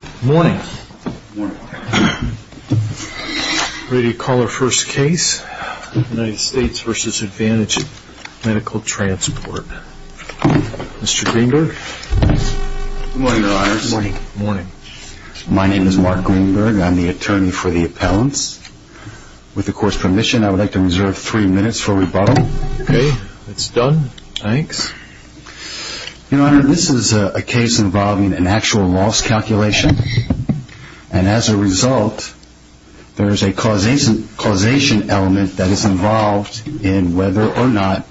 Good morning. Ready to call our first case, United States v. Advantage Medical Transport. Mr. Greenberg. Good morning, Your Honors. Good morning. My name is Mark Greenberg. I'm the attorney for the appellants. With the court's permission, I would like to reserve three minutes for rebuttal. Okay. That's done. Thanks. Your Honor, this is a case involving an actual loss calculation. And as a result, there is a causation element that is involved in whether or not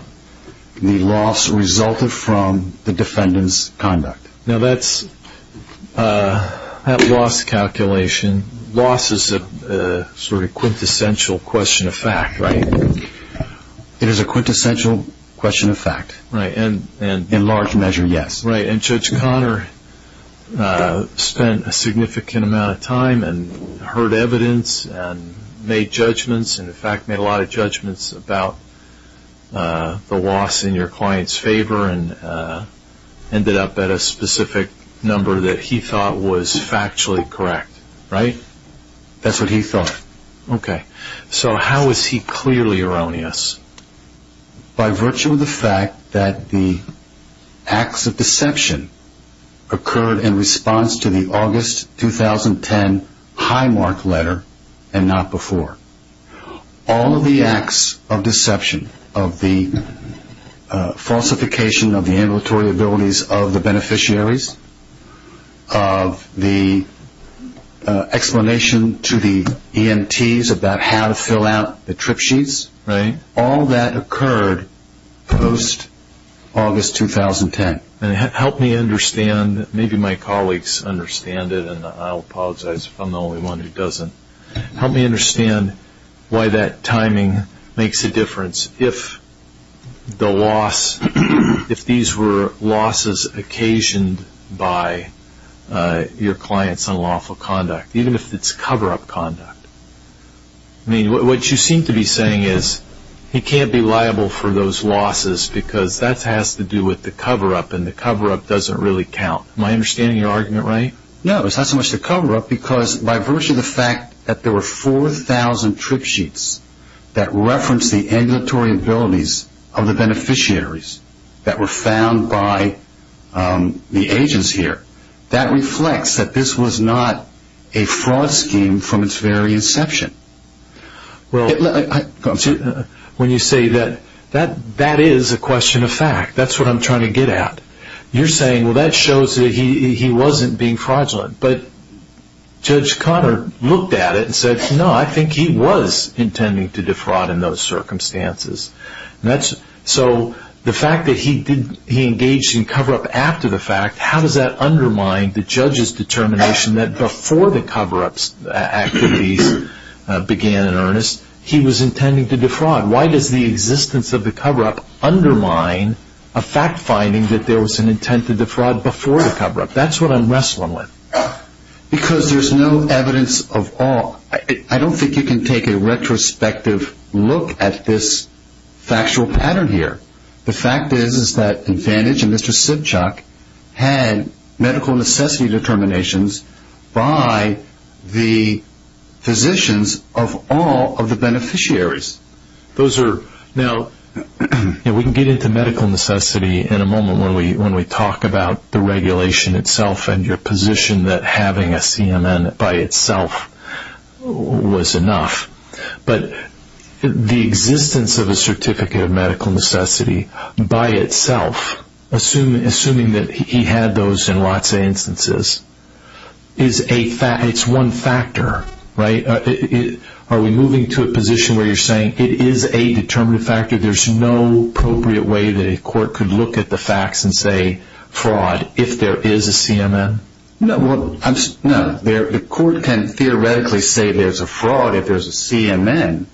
the loss resulted from the defendant's conduct. Now, that loss calculation, loss is a sort of quintessential question of fact, right? It is a quintessential question of fact. In large measure, yes. Right. And Judge Conner spent a significant amount of time and heard evidence and made judgments, and in fact made a lot of judgments about the loss in your client's favor and ended up at a specific number that he thought was factually correct, right? That's what he thought. Okay. So how is he clearly erroneous? By virtue of the fact that the acts of deception occurred in response to the August 2010 Highmark letter and not before. All of the acts of deception, of the falsification of the ambulatory abilities of the beneficiaries, of the explanation to the EMTs about how to fill out the trip sheets, right, all that occurred post-August 2010. And help me understand, maybe my colleagues understand it, and I'll apologize if I'm the only one who doesn't, help me understand why that timing makes a difference if the loss, if these were losses occasioned by your client's unlawful conduct, even if it's cover-up conduct. I mean, what you seem to be saying is he can't be liable for those losses because that has to do with the cover-up, and the cover-up doesn't really count. Am I understanding your argument right? No, it's not so much the cover-up because by virtue of the fact that there were 4,000 trip sheets that referenced the ambulatory abilities of the beneficiaries that were found by the agents here, that reflects that this was not a fraud scheme from its very inception. Well, when you say that, that is a question of fact. That's what I'm trying to get at. You're saying, well, that shows that he wasn't being fraudulent. But Judge Cotter looked at it and said, no, I think he was intending to defraud in those circumstances. So the fact that he engaged in cover-up after the fact, how does that undermine the judge's determination that before the cover-up activities began in earnest, he was intending to defraud? Why does the existence of the cover-up undermine a fact-finding that there was an intent to defraud before the cover-up? That's what I'm wrestling with. Because there's no evidence of all. I don't think you can take a retrospective look at this factual pattern here. The fact is that Advantage and Mr. Sibchuk had medical necessity determinations by the physicians of all of the beneficiaries. We can get into medical necessity in a moment when we talk about the regulation itself and your position that having a CMN by itself was enough. But the existence of a certificate of medical necessity by itself, assuming that he had those in lots of instances, is one factor. Are we moving to a position where you're saying it is a determinative factor? There's no appropriate way that a court could look at the facts and say fraud if there is a CMN? No. The court can theoretically say there's a fraud if there's a CMN.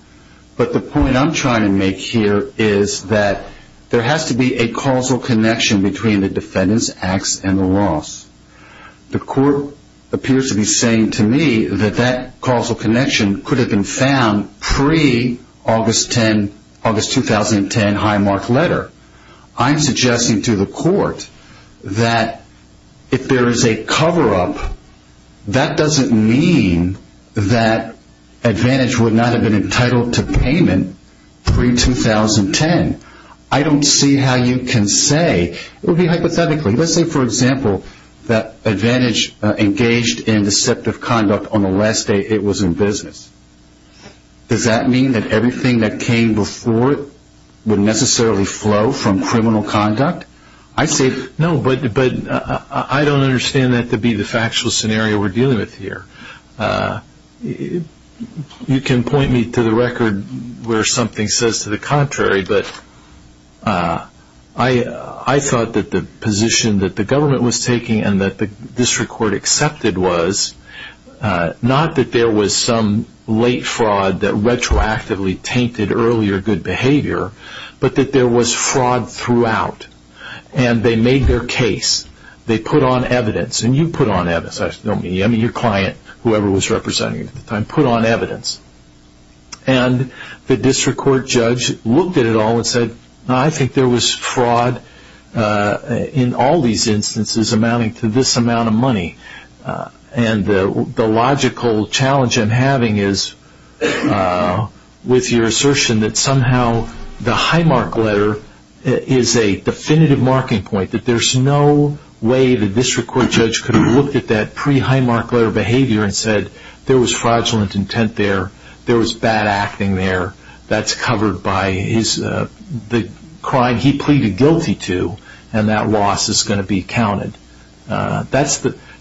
But the point I'm trying to make here is that there has to be a causal connection between the defendant's acts and the loss. The court appears to be saying to me that that causal connection could have been found pre-August 2010 Highmark letter. I'm suggesting to the court that if there is a cover-up, that doesn't mean that Advantage would not have been entitled to payment pre-2010. I don't see how you can say, it would be hypothetically, let's say for example that Advantage engaged in deceptive conduct on the last day it was in business. Does that mean that everything that came before it would necessarily flow from criminal conduct? No, but I don't understand that to be the factual scenario we're dealing with here. You can point me to the record where something says to the contrary, but I thought that the position that the government was taking and that the district court accepted was not that there was some late fraud that retroactively tainted earlier good behavior, but that there was fraud throughout. They made their case, they put on evidence, and you put on evidence, I mean your client, whoever was representing you at the time, put on evidence. And the district court judge looked at it all and said, I think there was fraud in all these instances amounting to this amount of money. And the logical challenge I'm having is with your assertion that somehow the high mark letter is a definitive marking point, that there's no way the district court judge could have looked at that pre-high mark letter behavior and said there was fraudulent intent there, there was bad acting there, that's covered by the crime he pleaded guilty to, and that loss is going to be counted.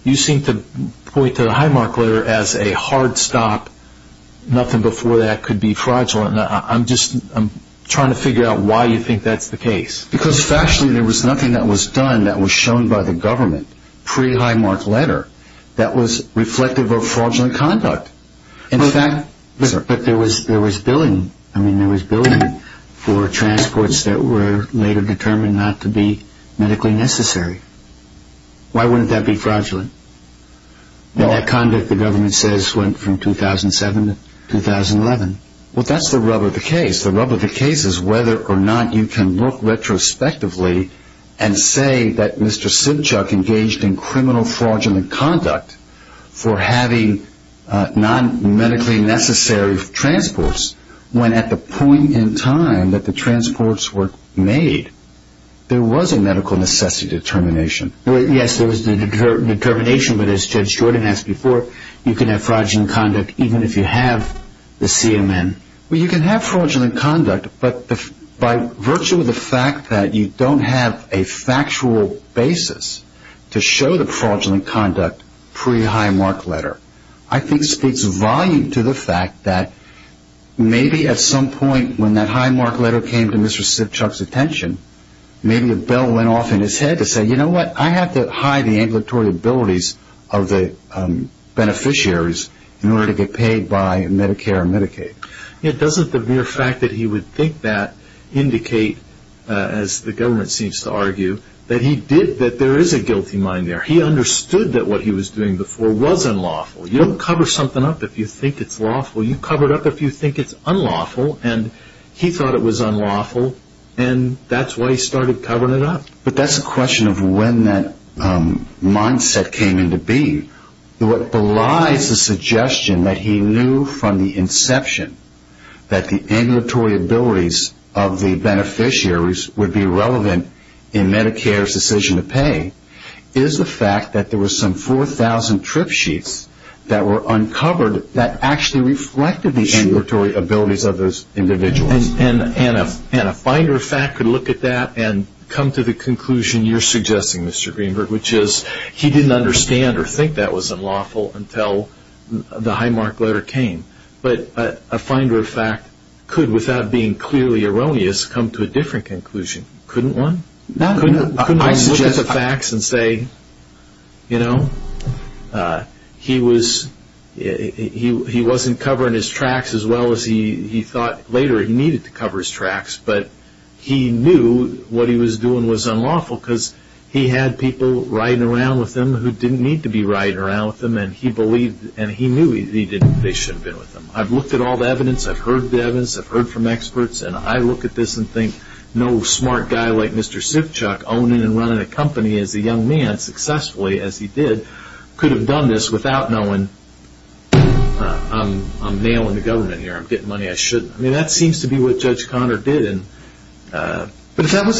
You seem to point to the high mark letter as a hard stop, nothing before that could be fraudulent. I'm just trying to figure out why you think that's the case. Because factually there was nothing that was done that was shown by the government pre-high mark letter that was reflective of fraudulent conduct. But there was billing for transports that were later determined not to be medically necessary. Why wouldn't that be fraudulent? That conduct, the government says, went from 2007 to 2011. Well, that's the rub of the case. The rub of the case is whether or not you can look retrospectively and say that Mr. Sidchuck engaged in criminal fraudulent conduct for having non-medically necessary transports when at the point in time that the transports were made, there was a medical necessity determination. Yes, there was a determination, but as Judge Jordan asked before, you can have fraudulent conduct even if you have the CMN. Well, you can have fraudulent conduct, but by virtue of the fact that you don't have a factual basis to show the fraudulent conduct pre-high mark letter, I think speaks volume to the fact that maybe at some point when that high mark letter came to Mr. Sidchuck's attention, maybe a bell went off in his head to say, Yeah, doesn't the mere fact that he would think that indicate, as the government seems to argue, that he did, that there is a guilty mind there. He understood that what he was doing before was unlawful. You don't cover something up if you think it's lawful. You cover it up if you think it's unlawful, and he thought it was unlawful, and that's why he started covering it up. But that's a question of when that mindset came into being. What belies the suggestion that he knew from the inception that the ambulatory abilities of the beneficiaries would be relevant in Medicare's decision to pay is the fact that there were some 4,000 trip sheets that were uncovered that actually reflected the ambulatory abilities of those individuals. And a finder of fact could look at that and come to the conclusion you're suggesting, Mr. Greenberg, which is he didn't understand or think that was unlawful until the Highmark letter came. But a finder of fact could, without being clearly erroneous, come to a different conclusion, couldn't one? Couldn't one look at the facts and say, you know, he wasn't covering his tracks as well as he thought later he needed to cover his tracks, but he knew what he was doing was unlawful because he had people riding around with him who didn't need to be riding around with him, and he knew they shouldn't have been with him. I've looked at all the evidence, I've heard the evidence, I've heard from experts, and I look at this and think no smart guy like Mr. Sipchuck, owning and running a company as a young man successfully as he did, could have done this without knowing, I'm nailing the government here, I'm getting money I shouldn't. I mean, that seems to be what Judge Conner did. But if that was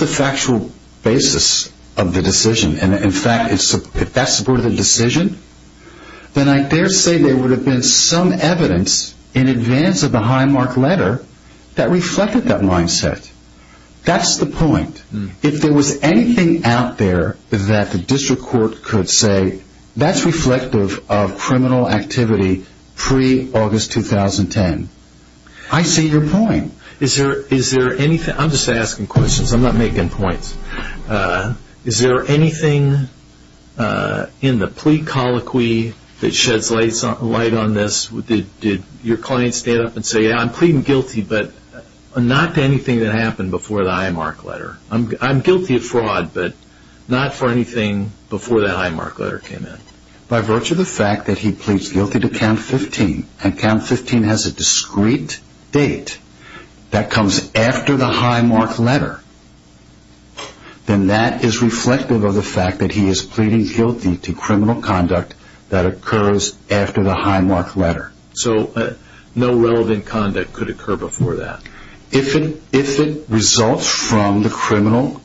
the factual basis of the decision, and in fact if that supported the decision, then I dare say there would have been some evidence in advance of the Highmark letter that reflected that mindset. That's the point. If there was anything out there that the district court could say that's reflective of criminal activity pre-August 2010, I see your point. I'm just asking questions, I'm not making points. Is there anything in the plea colloquy that sheds light on this? Did your client stand up and say, yeah, I'm pleading guilty, but not to anything that happened before the Highmark letter. I'm guilty of fraud, but not for anything before that Highmark letter came in. By virtue of the fact that he pleads guilty to count 15, and count 15 has a discrete date that comes after the Highmark letter, then that is reflective of the fact that he is pleading guilty to criminal conduct that occurs after the Highmark letter. So no relevant conduct could occur before that? If it results from the criminal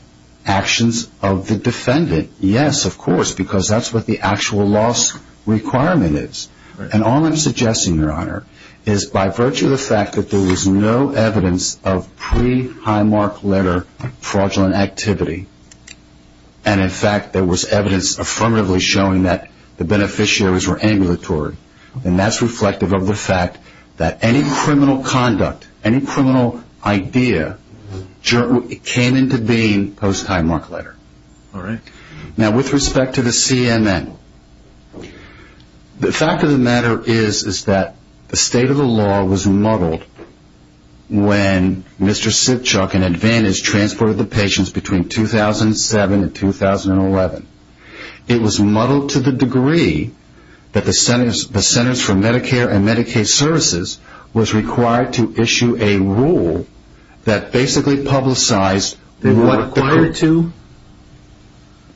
actions of the defendant, yes, of course, because that's what the actual loss requirement is. And all I'm suggesting, Your Honor, is by virtue of the fact that there was no evidence of pre-Highmark letter fraudulent activity, and in fact there was evidence affirmatively showing that the beneficiaries were ambulatory, then that's reflective of the fact that any criminal conduct, any criminal idea came into being post-Highmark letter. Now, with respect to the CNN, the fact of the matter is that the state of the law was muddled when Mr. Sitchuk and Advantage transported the patients between 2007 and 2011. It was muddled to the degree that the Centers for Medicare and Medicaid Services was required to issue a rule that basically publicized... Were they required to?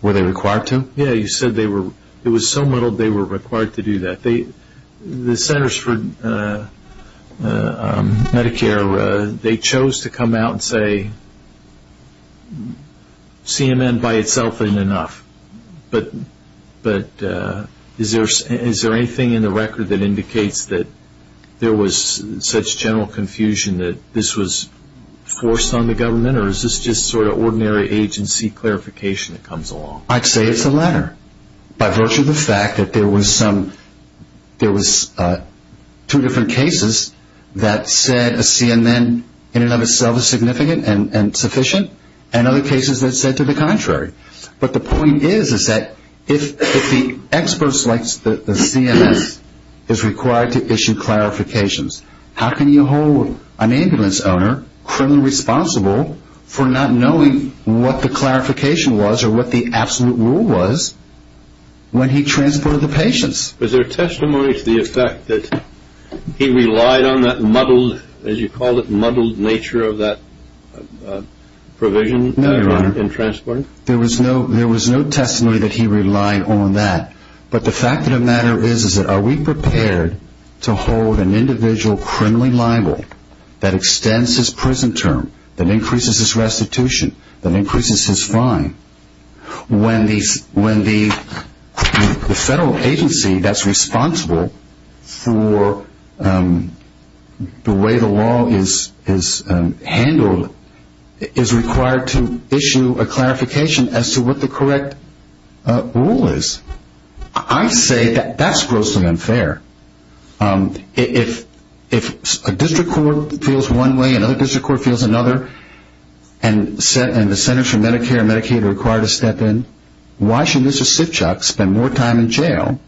Were they required to? Yeah, you said it was so muddled they were required to do that. The Centers for Medicare, they chose to come out and say, CNN by itself isn't enough, but is there anything in the record that indicates that there was such general confusion that this was forced on the government, or is this just sort of ordinary agency clarification that comes along? I'd say it's the latter by virtue of the fact that there was two different cases that said a CNN in and of itself is significant and sufficient, and other cases that said to the contrary. But the point is that if the experts like the CMS is required to issue clarifications, how can you hold an ambulance owner criminally responsible for not knowing what the clarification was or what the absolute rule was when he transported the patients? Was there testimony to the effect that he relied on that muddled, as you called it, muddled nature of that provision in transporting? There was no testimony that he relied on that, but the fact of the matter is that are we prepared to hold an individual criminally liable that extends his prison term, that increases his restitution, that increases his fine, when the federal agency that's responsible for the way the law is handled is required to issue a clarification as to what the correct rule is? I say that that's grossly unfair. If a district court feels one way, another district court feels another, and the Centers for Medicare and Medicaid are required to step in, why should Mr. Sitchak spend more time in jail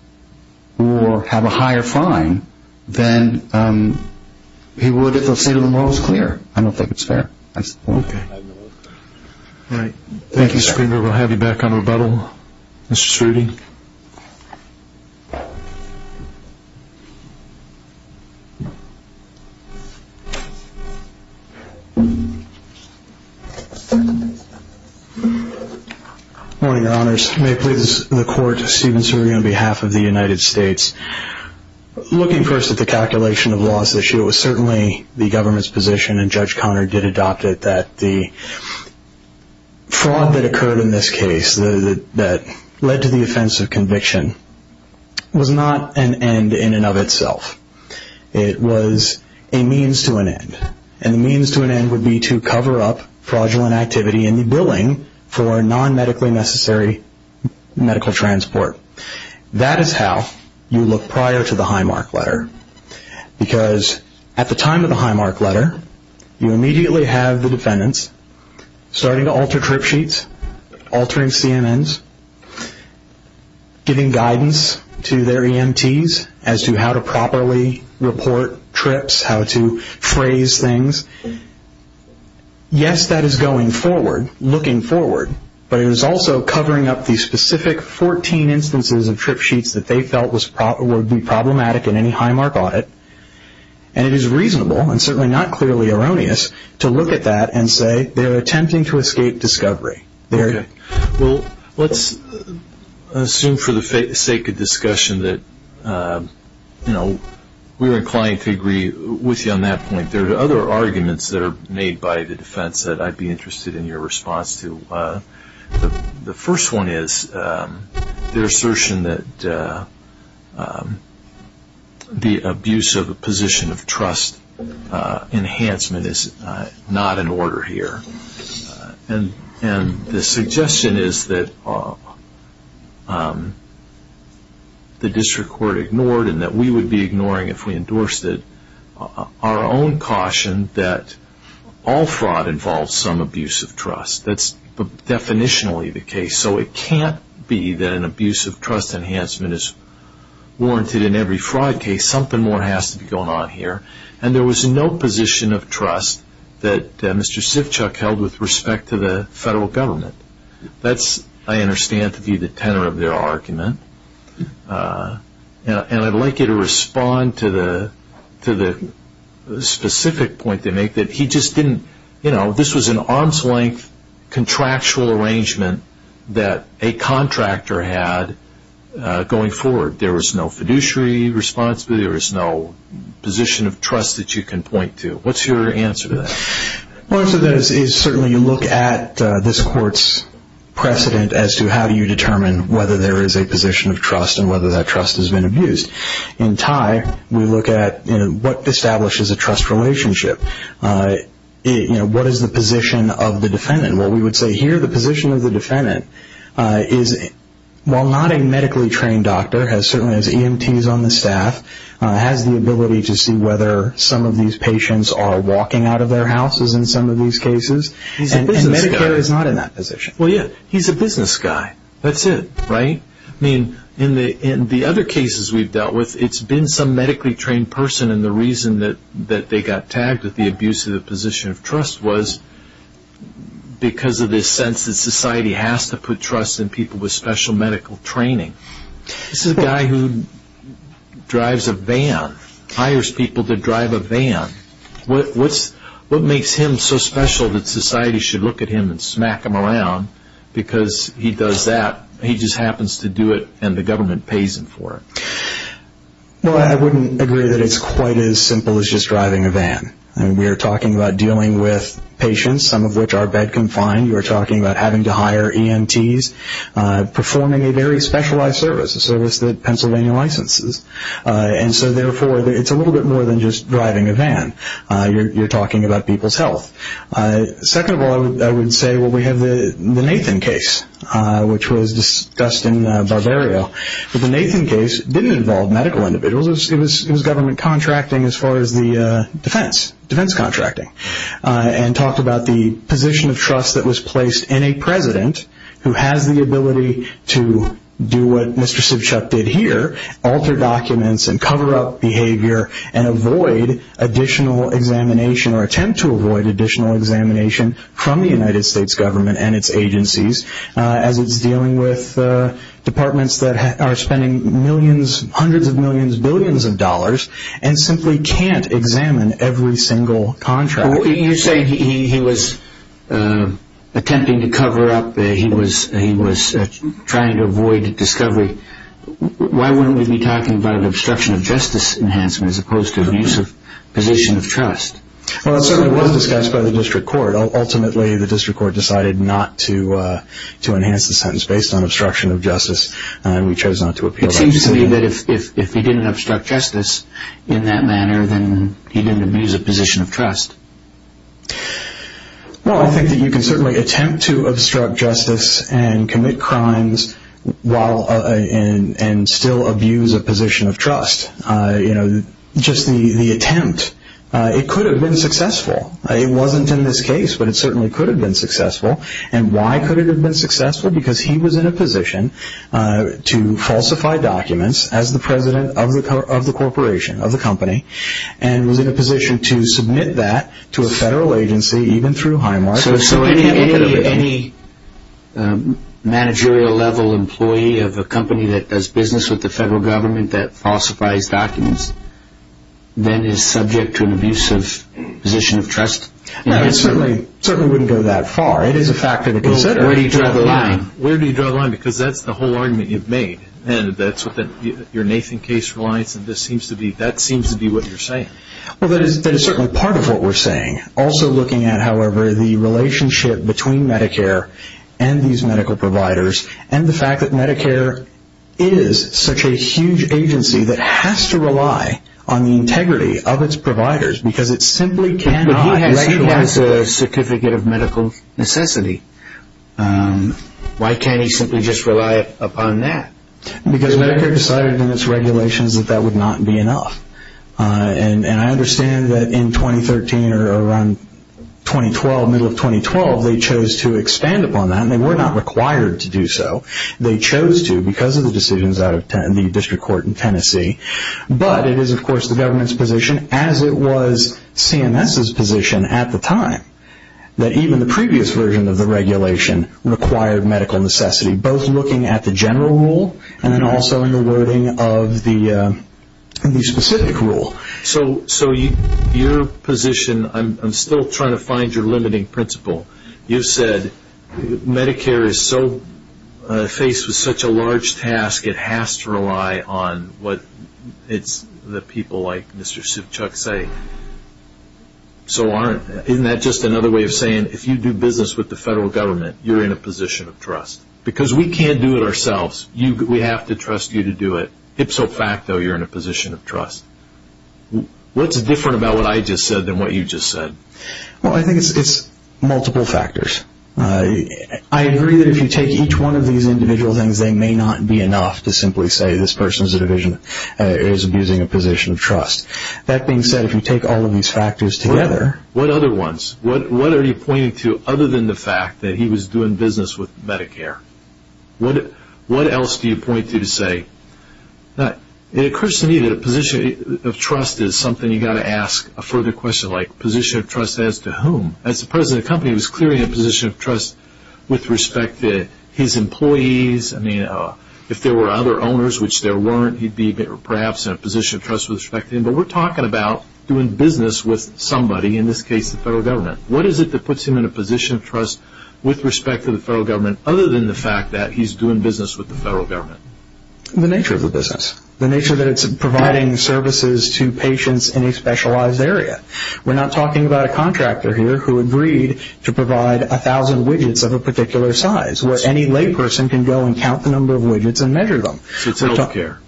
or have a higher fine than he would if the state of the law was clear? I don't think it's fair. Okay. All right. Thank you, Screamer. We'll have you back on rebuttal. Mr. Screamer. Good morning, Your Honors. May it please the Court, Stephen Screamer on behalf of the United States. Looking first at the calculation of laws this year, it was certainly the government's position, and Judge Conard did adopt it, that the fraud that occurred in this case that led to the offense of conviction was not an end in and of itself. It was a means to an end, and the means to an end would be to cover up fraudulent activity in the billing for non-medically necessary medical transport. That is how you look prior to the Highmark letter, because at the time of the Highmark letter, you immediately have the defendants starting to alter trip sheets, altering CMNs, giving guidance to their EMTs as to how to properly report trips, how to phrase things. Yes, that is going forward, looking forward, but it is also covering up the specific 14 instances of trip sheets that they felt would be problematic in any Highmark audit, and it is reasonable, and certainly not clearly erroneous, to look at that and say they are attempting to escape discovery. Okay. Well, let's assume for the sake of discussion that, you know, we are inclined to agree with you on that point. There are other arguments that are made by the defense that I would be interested in your response to. The first one is their assertion that the abuse of a position of trust enhancement is not in order here, and the suggestion is that the district court ignored and that we would be ignoring if we endorsed it. Our own caution that all fraud involves some abuse of trust. That is definitionally the case, so it can't be that an abuse of trust enhancement is warranted in every fraud case. Something more has to be going on here, and there was no position of trust that Mr. Sivchuk held with respect to the federal government. That is, I understand, to be the tenor of their argument, and I would like you to respond to the specific point they make, that he just didn't, you know, this was an arm's length contractual arrangement that a contractor had going forward. There was no fiduciary responsibility. There was no position of trust that you can point to. What is your answer to that? My answer to that is certainly you look at this court's precedent as to how do you determine whether there is a position of trust and whether that trust has been abused. In Tye, we look at what establishes a trust relationship. What is the position of the defendant? Well, we would say here the position of the defendant is, while not a medically trained doctor, certainly has EMTs on the staff, has the ability to see whether some of these patients are walking out of their houses in some of these cases, and Medicare is not in that position. Well, yeah, he's a business guy. That's it, right? I mean, in the other cases we've dealt with, it's been some medically trained person, and the reason that they got tagged with the abusive position of trust was because of this sense that society has to put trust in people with special medical training. This is a guy who drives a van, hires people to drive a van. What makes him so special that society should look at him and smack him around? Because he does that, he just happens to do it, and the government pays him for it. Well, I wouldn't agree that it's quite as simple as just driving a van. We're talking about dealing with patients, some of which are bed-confined. We're talking about having to hire EMTs, performing a very specialized service, a service that Pennsylvania licenses. And so, therefore, it's a little bit more than just driving a van. You're talking about people's health. Second of all, I would say, well, we have the Nathan case, which was Dustin Barbario. But the Nathan case didn't involve medical individuals. It was government contracting as far as the defense, defense contracting, and talked about the position of trust that was placed in a president who has the ability to do what Mr. Sivchuk did here, alter documents and cover up behavior and avoid additional examination or attempt to avoid additional examination from the United States government and its agencies, as it's dealing with departments that are spending millions, hundreds of millions, billions of dollars, and simply can't examine every single contract. You're saying he was attempting to cover up, he was trying to avoid discovery. Why wouldn't we be talking about an obstruction of justice enhancement as opposed to abuse of position of trust? Well, it certainly was discussed by the district court. Ultimately, the district court decided not to enhance the sentence based on obstruction of justice, and we chose not to appeal that decision. Excuse me, but if he didn't obstruct justice in that manner, then he didn't abuse a position of trust. Well, I think that you can certainly attempt to obstruct justice and commit crimes and still abuse a position of trust. Just the attempt, it could have been successful. It wasn't in this case, but it certainly could have been successful. And why could it have been successful? Because he was in a position to falsify documents as the president of the corporation, of the company, and was in a position to submit that to a federal agency, even through HIMARS. So any managerial level employee of a company that does business with the federal government that falsifies documents, then is subject to an abuse of position of trust? No, it certainly wouldn't go that far. It is a factor to consider. Where do you draw the line? Where do you draw the line? Because that's the whole argument you've made. And that's your Nathan case reliance, and that seems to be what you're saying. Well, that is certainly part of what we're saying. Also looking at, however, the relationship between Medicare and these medical providers and the fact that Medicare is such a huge agency that has to rely on the integrity of its providers because it simply cannot... But he has a certificate of medical necessity. Why can't he simply just rely upon that? Because Medicare decided in its regulations that that would not be enough. And I understand that in 2013 or around 2012, middle of 2012, they chose to expand upon that, and they were not required to do so. They chose to because of the decisions out of the district court in Tennessee. But it is, of course, the government's position, as it was CMS's position at the time, that even the previous version of the regulation required medical necessity, both looking at the general rule and then also in the wording of the specific rule. So your position, I'm still trying to find your limiting principle. You said Medicare is faced with such a large task it has to rely on what the people like Mr. Sivchuk say. Isn't that just another way of saying if you do business with the federal government, you're in a position of trust? Because we can't do it ourselves. We have to trust you to do it. Ipso facto, you're in a position of trust. What's different about what I just said than what you just said? Well, I think it's multiple factors. I agree that if you take each one of these individual things, they may not be enough to simply say this person is abusing a position of trust. That being said, if you take all of these factors together. What other ones? What are you pointing to other than the fact that he was doing business with Medicare? What else do you point to to say? It occurs to me that a position of trust is something you've got to ask a further question, like position of trust as to whom? As the president of the company, he was clearly in a position of trust with respect to his employees. If there were other owners, which there weren't, he'd be perhaps in a position of trust with respect to him. But we're talking about doing business with somebody, in this case the federal government. What is it that puts him in a position of trust with respect to the federal government, other than the fact that he's doing business with the federal government? The nature of the business. The nature that it's providing services to patients in a specialized area. We're not talking about a contractor here who agreed to provide 1,000 widgets of a particular size, where any layperson can go and count the number of widgets and measure them. So it's health care.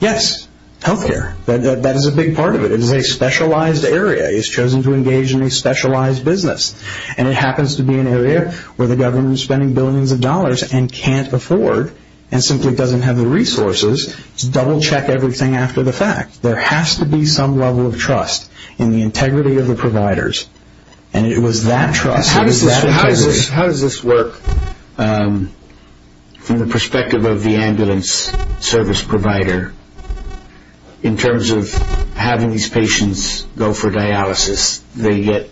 Yes, health care. That is a big part of it. It is a specialized area. He's chosen to engage in a specialized business, and it happens to be an area where the government is spending billions of dollars and can't afford and simply doesn't have the resources to double-check everything after the fact. There has to be some level of trust in the integrity of the providers. And it was that trust, it was that integrity. How does this work from the perspective of the ambulance service provider, in terms of having these patients go for dialysis? They get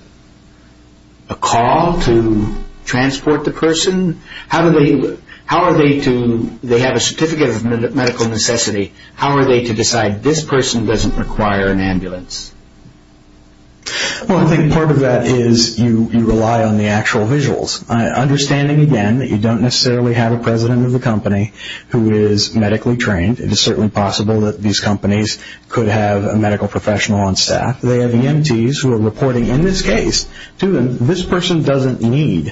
a call to transport the person? They have a certificate of medical necessity. How are they to decide this person doesn't require an ambulance? Well, I think part of that is you rely on the actual visuals. Understanding, again, that you don't necessarily have a president of the company who is medically trained. It is certainly possible that these companies could have a medical professional on staff. They have EMTs who are reporting in this case to them,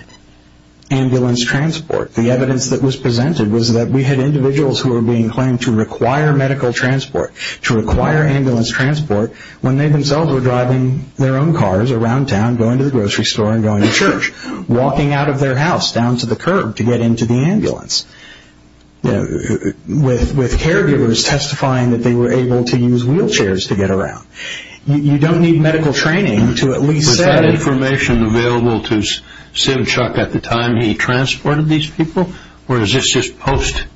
ambulance transport. The evidence that was presented was that we had individuals who were being claimed to require medical transport, to require ambulance transport when they themselves were driving their own cars around town, going to the grocery store and going to church, walking out of their house down to the curb to get into the ambulance, with caregivers testifying that they were able to use wheelchairs to get around. You don't need medical training to at least say that. Was any information available to Sivchuk at the time he transported these people, or is this just post-transport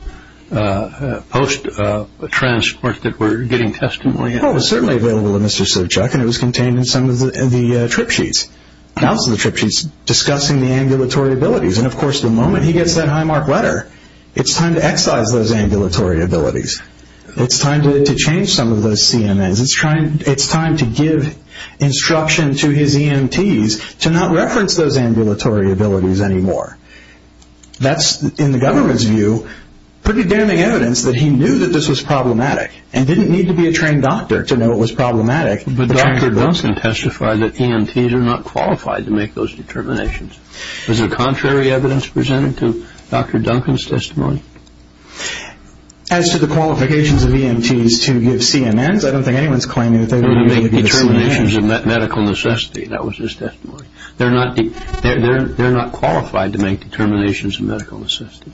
that we're getting testimony of? Well, it was certainly available to Mr. Sivchuk, and it was contained in some of the trip sheets, and also the trip sheets discussing the ambulatory abilities. And, of course, the moment he gets that high-mark letter, it's time to excise those ambulatory abilities. It's time to change some of those CMAs. It's time to give instruction to his EMTs to not reference those ambulatory abilities anymore. That's, in the government's view, pretty damning evidence that he knew that this was problematic and didn't need to be a trained doctor to know it was problematic. But Dr. Duncan testified that EMTs are not qualified to make those determinations. Was there contrary evidence presented to Dr. Duncan's testimony? As to the qualifications of EMTs to give CMAs, I don't think anyone's claiming that they were going to give CMAs. They were going to make determinations of medical necessity. That was his testimony. They're not qualified to make determinations of medical necessity.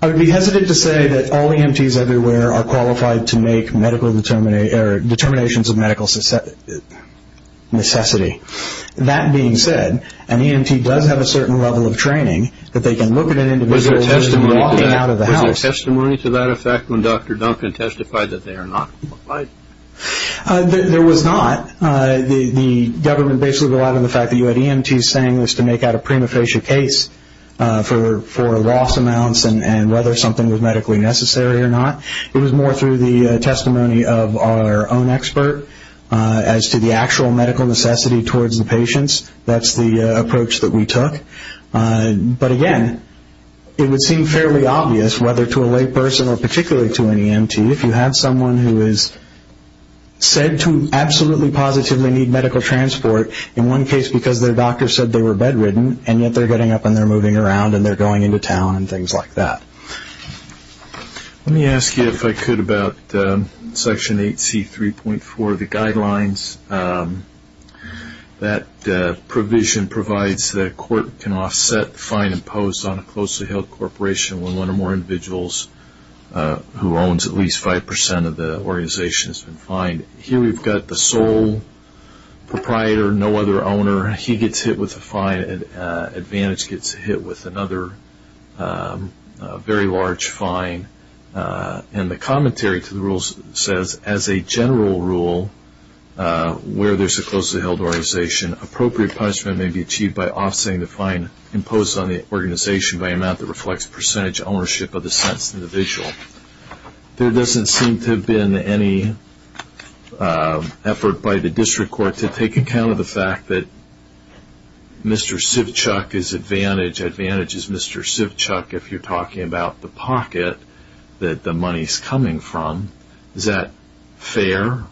I would be hesitant to say that all EMTs everywhere are qualified to make determinations of medical necessity. That being said, an EMT does have a certain level of training, that they can look at an individual walking out of the house. Was there testimony to that effect when Dr. Duncan testified that they are not qualified? There was not. The government basically relied on the fact that you had EMTs saying this to make out a prima facie case for loss amounts and whether something was medically necessary or not. It was more through the testimony of our own expert as to the actual medical necessity towards the patients. That's the approach that we took. But again, it would seem fairly obvious whether to a lay person or particularly to an EMT, if you have someone who is said to absolutely positively need medical transport, in one case because their doctor said they were bedridden, and yet they're getting up and they're moving around and they're going into town and things like that. Let me ask you, if I could, about Section 8C.3.4, the guidelines. That provision provides that a court can offset the fine imposed on a closely held corporation when one or more individuals who owns at least 5% of the organization has been fined. Here we've got the sole proprietor, no other owner. He gets hit with a fine and Advantage gets hit with another very large fine. The commentary to the rules says, as a general rule, where there's a closely held organization, appropriate punishment may be achieved by offsetting the fine imposed on the organization by an amount that reflects percentage ownership of the sentenced individual. There doesn't seem to have been any effort by the district court to take account of the fact that Mr. Sivchuk is Advantage, Advantage is Mr. Sivchuk if you're talking about the pocket that the money is coming from. Is that fair?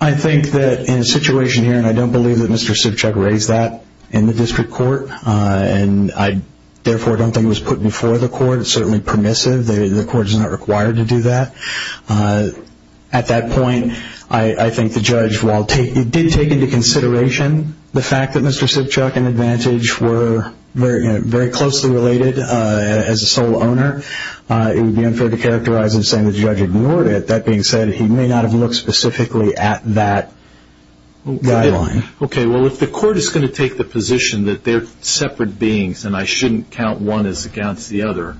I think that in a situation here, and I don't believe that Mr. Sivchuk raised that in the district court, and I therefore don't think it was put before the court. It's certainly permissive. The court is not required to do that. At that point, I think the judge, while it did take into consideration the fact that Mr. Sivchuk and Advantage were very closely related as a sole owner, it would be unfair to characterize him saying the judge ignored it. That being said, he may not have looked specifically at that guideline. Okay, well if the court is going to take the position that they're separate beings and I shouldn't count one as against the other,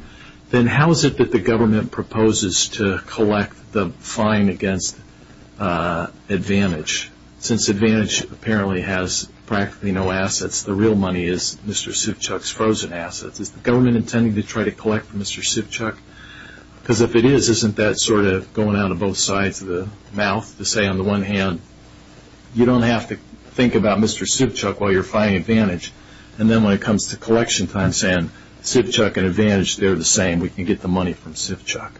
then how is it that the government proposes to collect the fine against Advantage? Since Advantage apparently has practically no assets, the real money is Mr. Sivchuk's frozen assets. Is the government intending to try to collect from Mr. Sivchuk? Because if it is, isn't that sort of going out of both sides of the mouth to say, on the one hand, you don't have to think about Mr. Sivchuk while you're finding Advantage, and then when it comes to collection time, saying Sivchuk and Advantage, they're the same, we can get the money from Sivchuk.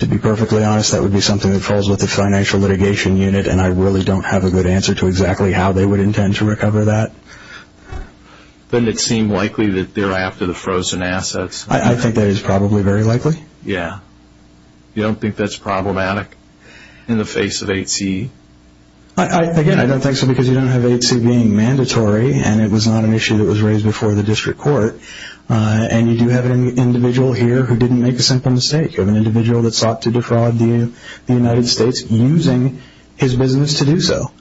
To be perfectly honest, that would be something that falls with the financial litigation unit, and I really don't have a good answer to exactly how they would intend to recover that. Doesn't it seem likely that they're after the frozen assets? I think that is probably very likely. Really? Yeah. You don't think that's problematic in the face of 8C? Again, I don't think so because you don't have 8C being mandatory, and it was not an issue that was raised before the district court, and you do have an individual here who didn't make a simple mistake. You have an individual that sought to defraud the United States using his business to do so.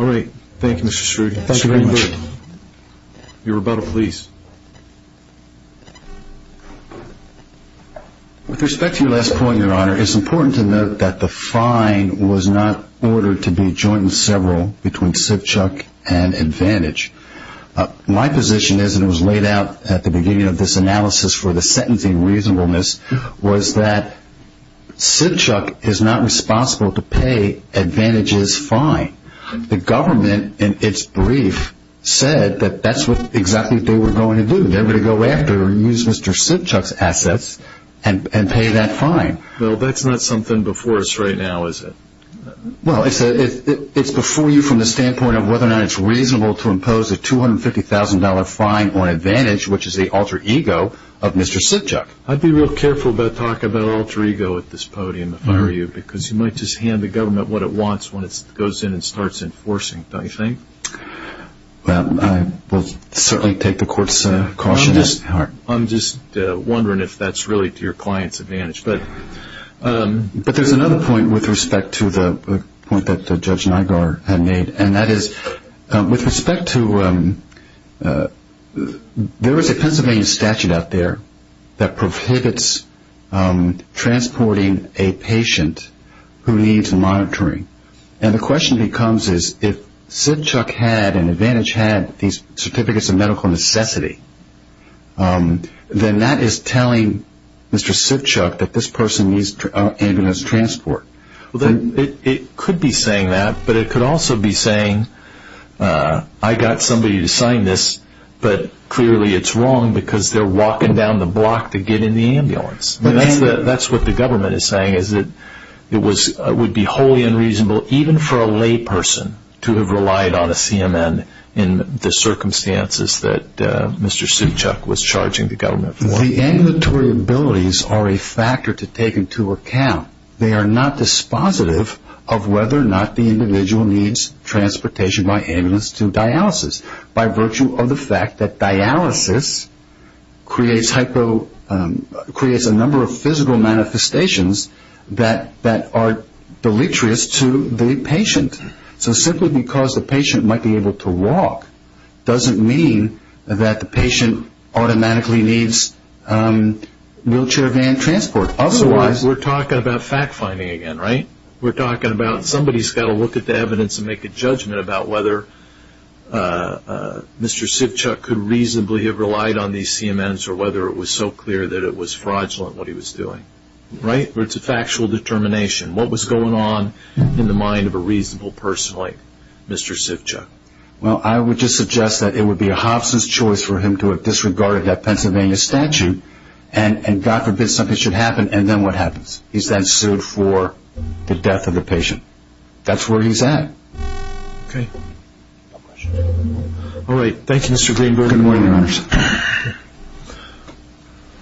All right. Thank you, Mr. Strude. Thank you very much. Your rebuttal, please. With respect to your last point, Your Honor, it's important to note that the fine was not ordered to be joint and several between Sivchuk and Advantage. My position is, and it was laid out at the beginning of this analysis for the sentencing reasonableness, was that Sivchuk is not responsible to pay Advantage's fine. The government, in its brief, said that that's what exactly they were going to do. They were going to go after him and use Mr. Sivchuk's assets and pay that fine. Well, that's not something before us right now, is it? Well, it's before you from the standpoint of whether or not it's reasonable to impose a $250,000 fine on Advantage, which is the alter ego of Mr. Sivchuk. I'd be real careful about talking about alter ego at this podium if I were you because you might just hand the government what it wants when it goes in and starts enforcing, don't you think? Well, I will certainly take the court's caution. I'm just wondering if that's really to your client's advantage. But there's another point with respect to the point that Judge Nigar had made, and that is with respect to there is a Pennsylvania statute out there that prohibits transporting a patient who needs monitoring. And the question becomes is if Sivchuk had and Advantage had these certificates of medical necessity, then that is telling Mr. Sivchuk that this person needs ambulance transport. It could be saying that, but it could also be saying I got somebody to sign this, but clearly it's wrong because they're walking down the block to get in the ambulance. That's what the government is saying is that it would be wholly unreasonable even for a lay person to have relied on a CMN in the circumstances that Mr. Sivchuk was charging the government for. The ambulatory abilities are a factor to take into account. They are not dispositive of whether or not the individual needs transportation by ambulance to dialysis. By virtue of the fact that dialysis creates a number of physical manifestations that are deleterious to the patient. So simply because the patient might be able to walk doesn't mean that the patient automatically needs wheelchair van transport. Otherwise we're talking about fact finding again, right? We're talking about somebody's got to look at the evidence and make a judgment about whether Mr. Sivchuk could reasonably have relied on these CMNs or whether it was so clear that it was fraudulent what he was doing, right? It's a factual determination. What was going on in the mind of a reasonable person like Mr. Sivchuk? Well, I would just suggest that it would be a Hobson's choice for him to have disregarded that Pennsylvania statute and God forbid something should happen and then what happens? He's then sued for the death of the patient. That's where he's at. Okay. All right. Thank you, Mr. Greenberg. Good morning, Your Honors.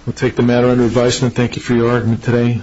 We'll take the matter under advisement. Thank you for your argument today.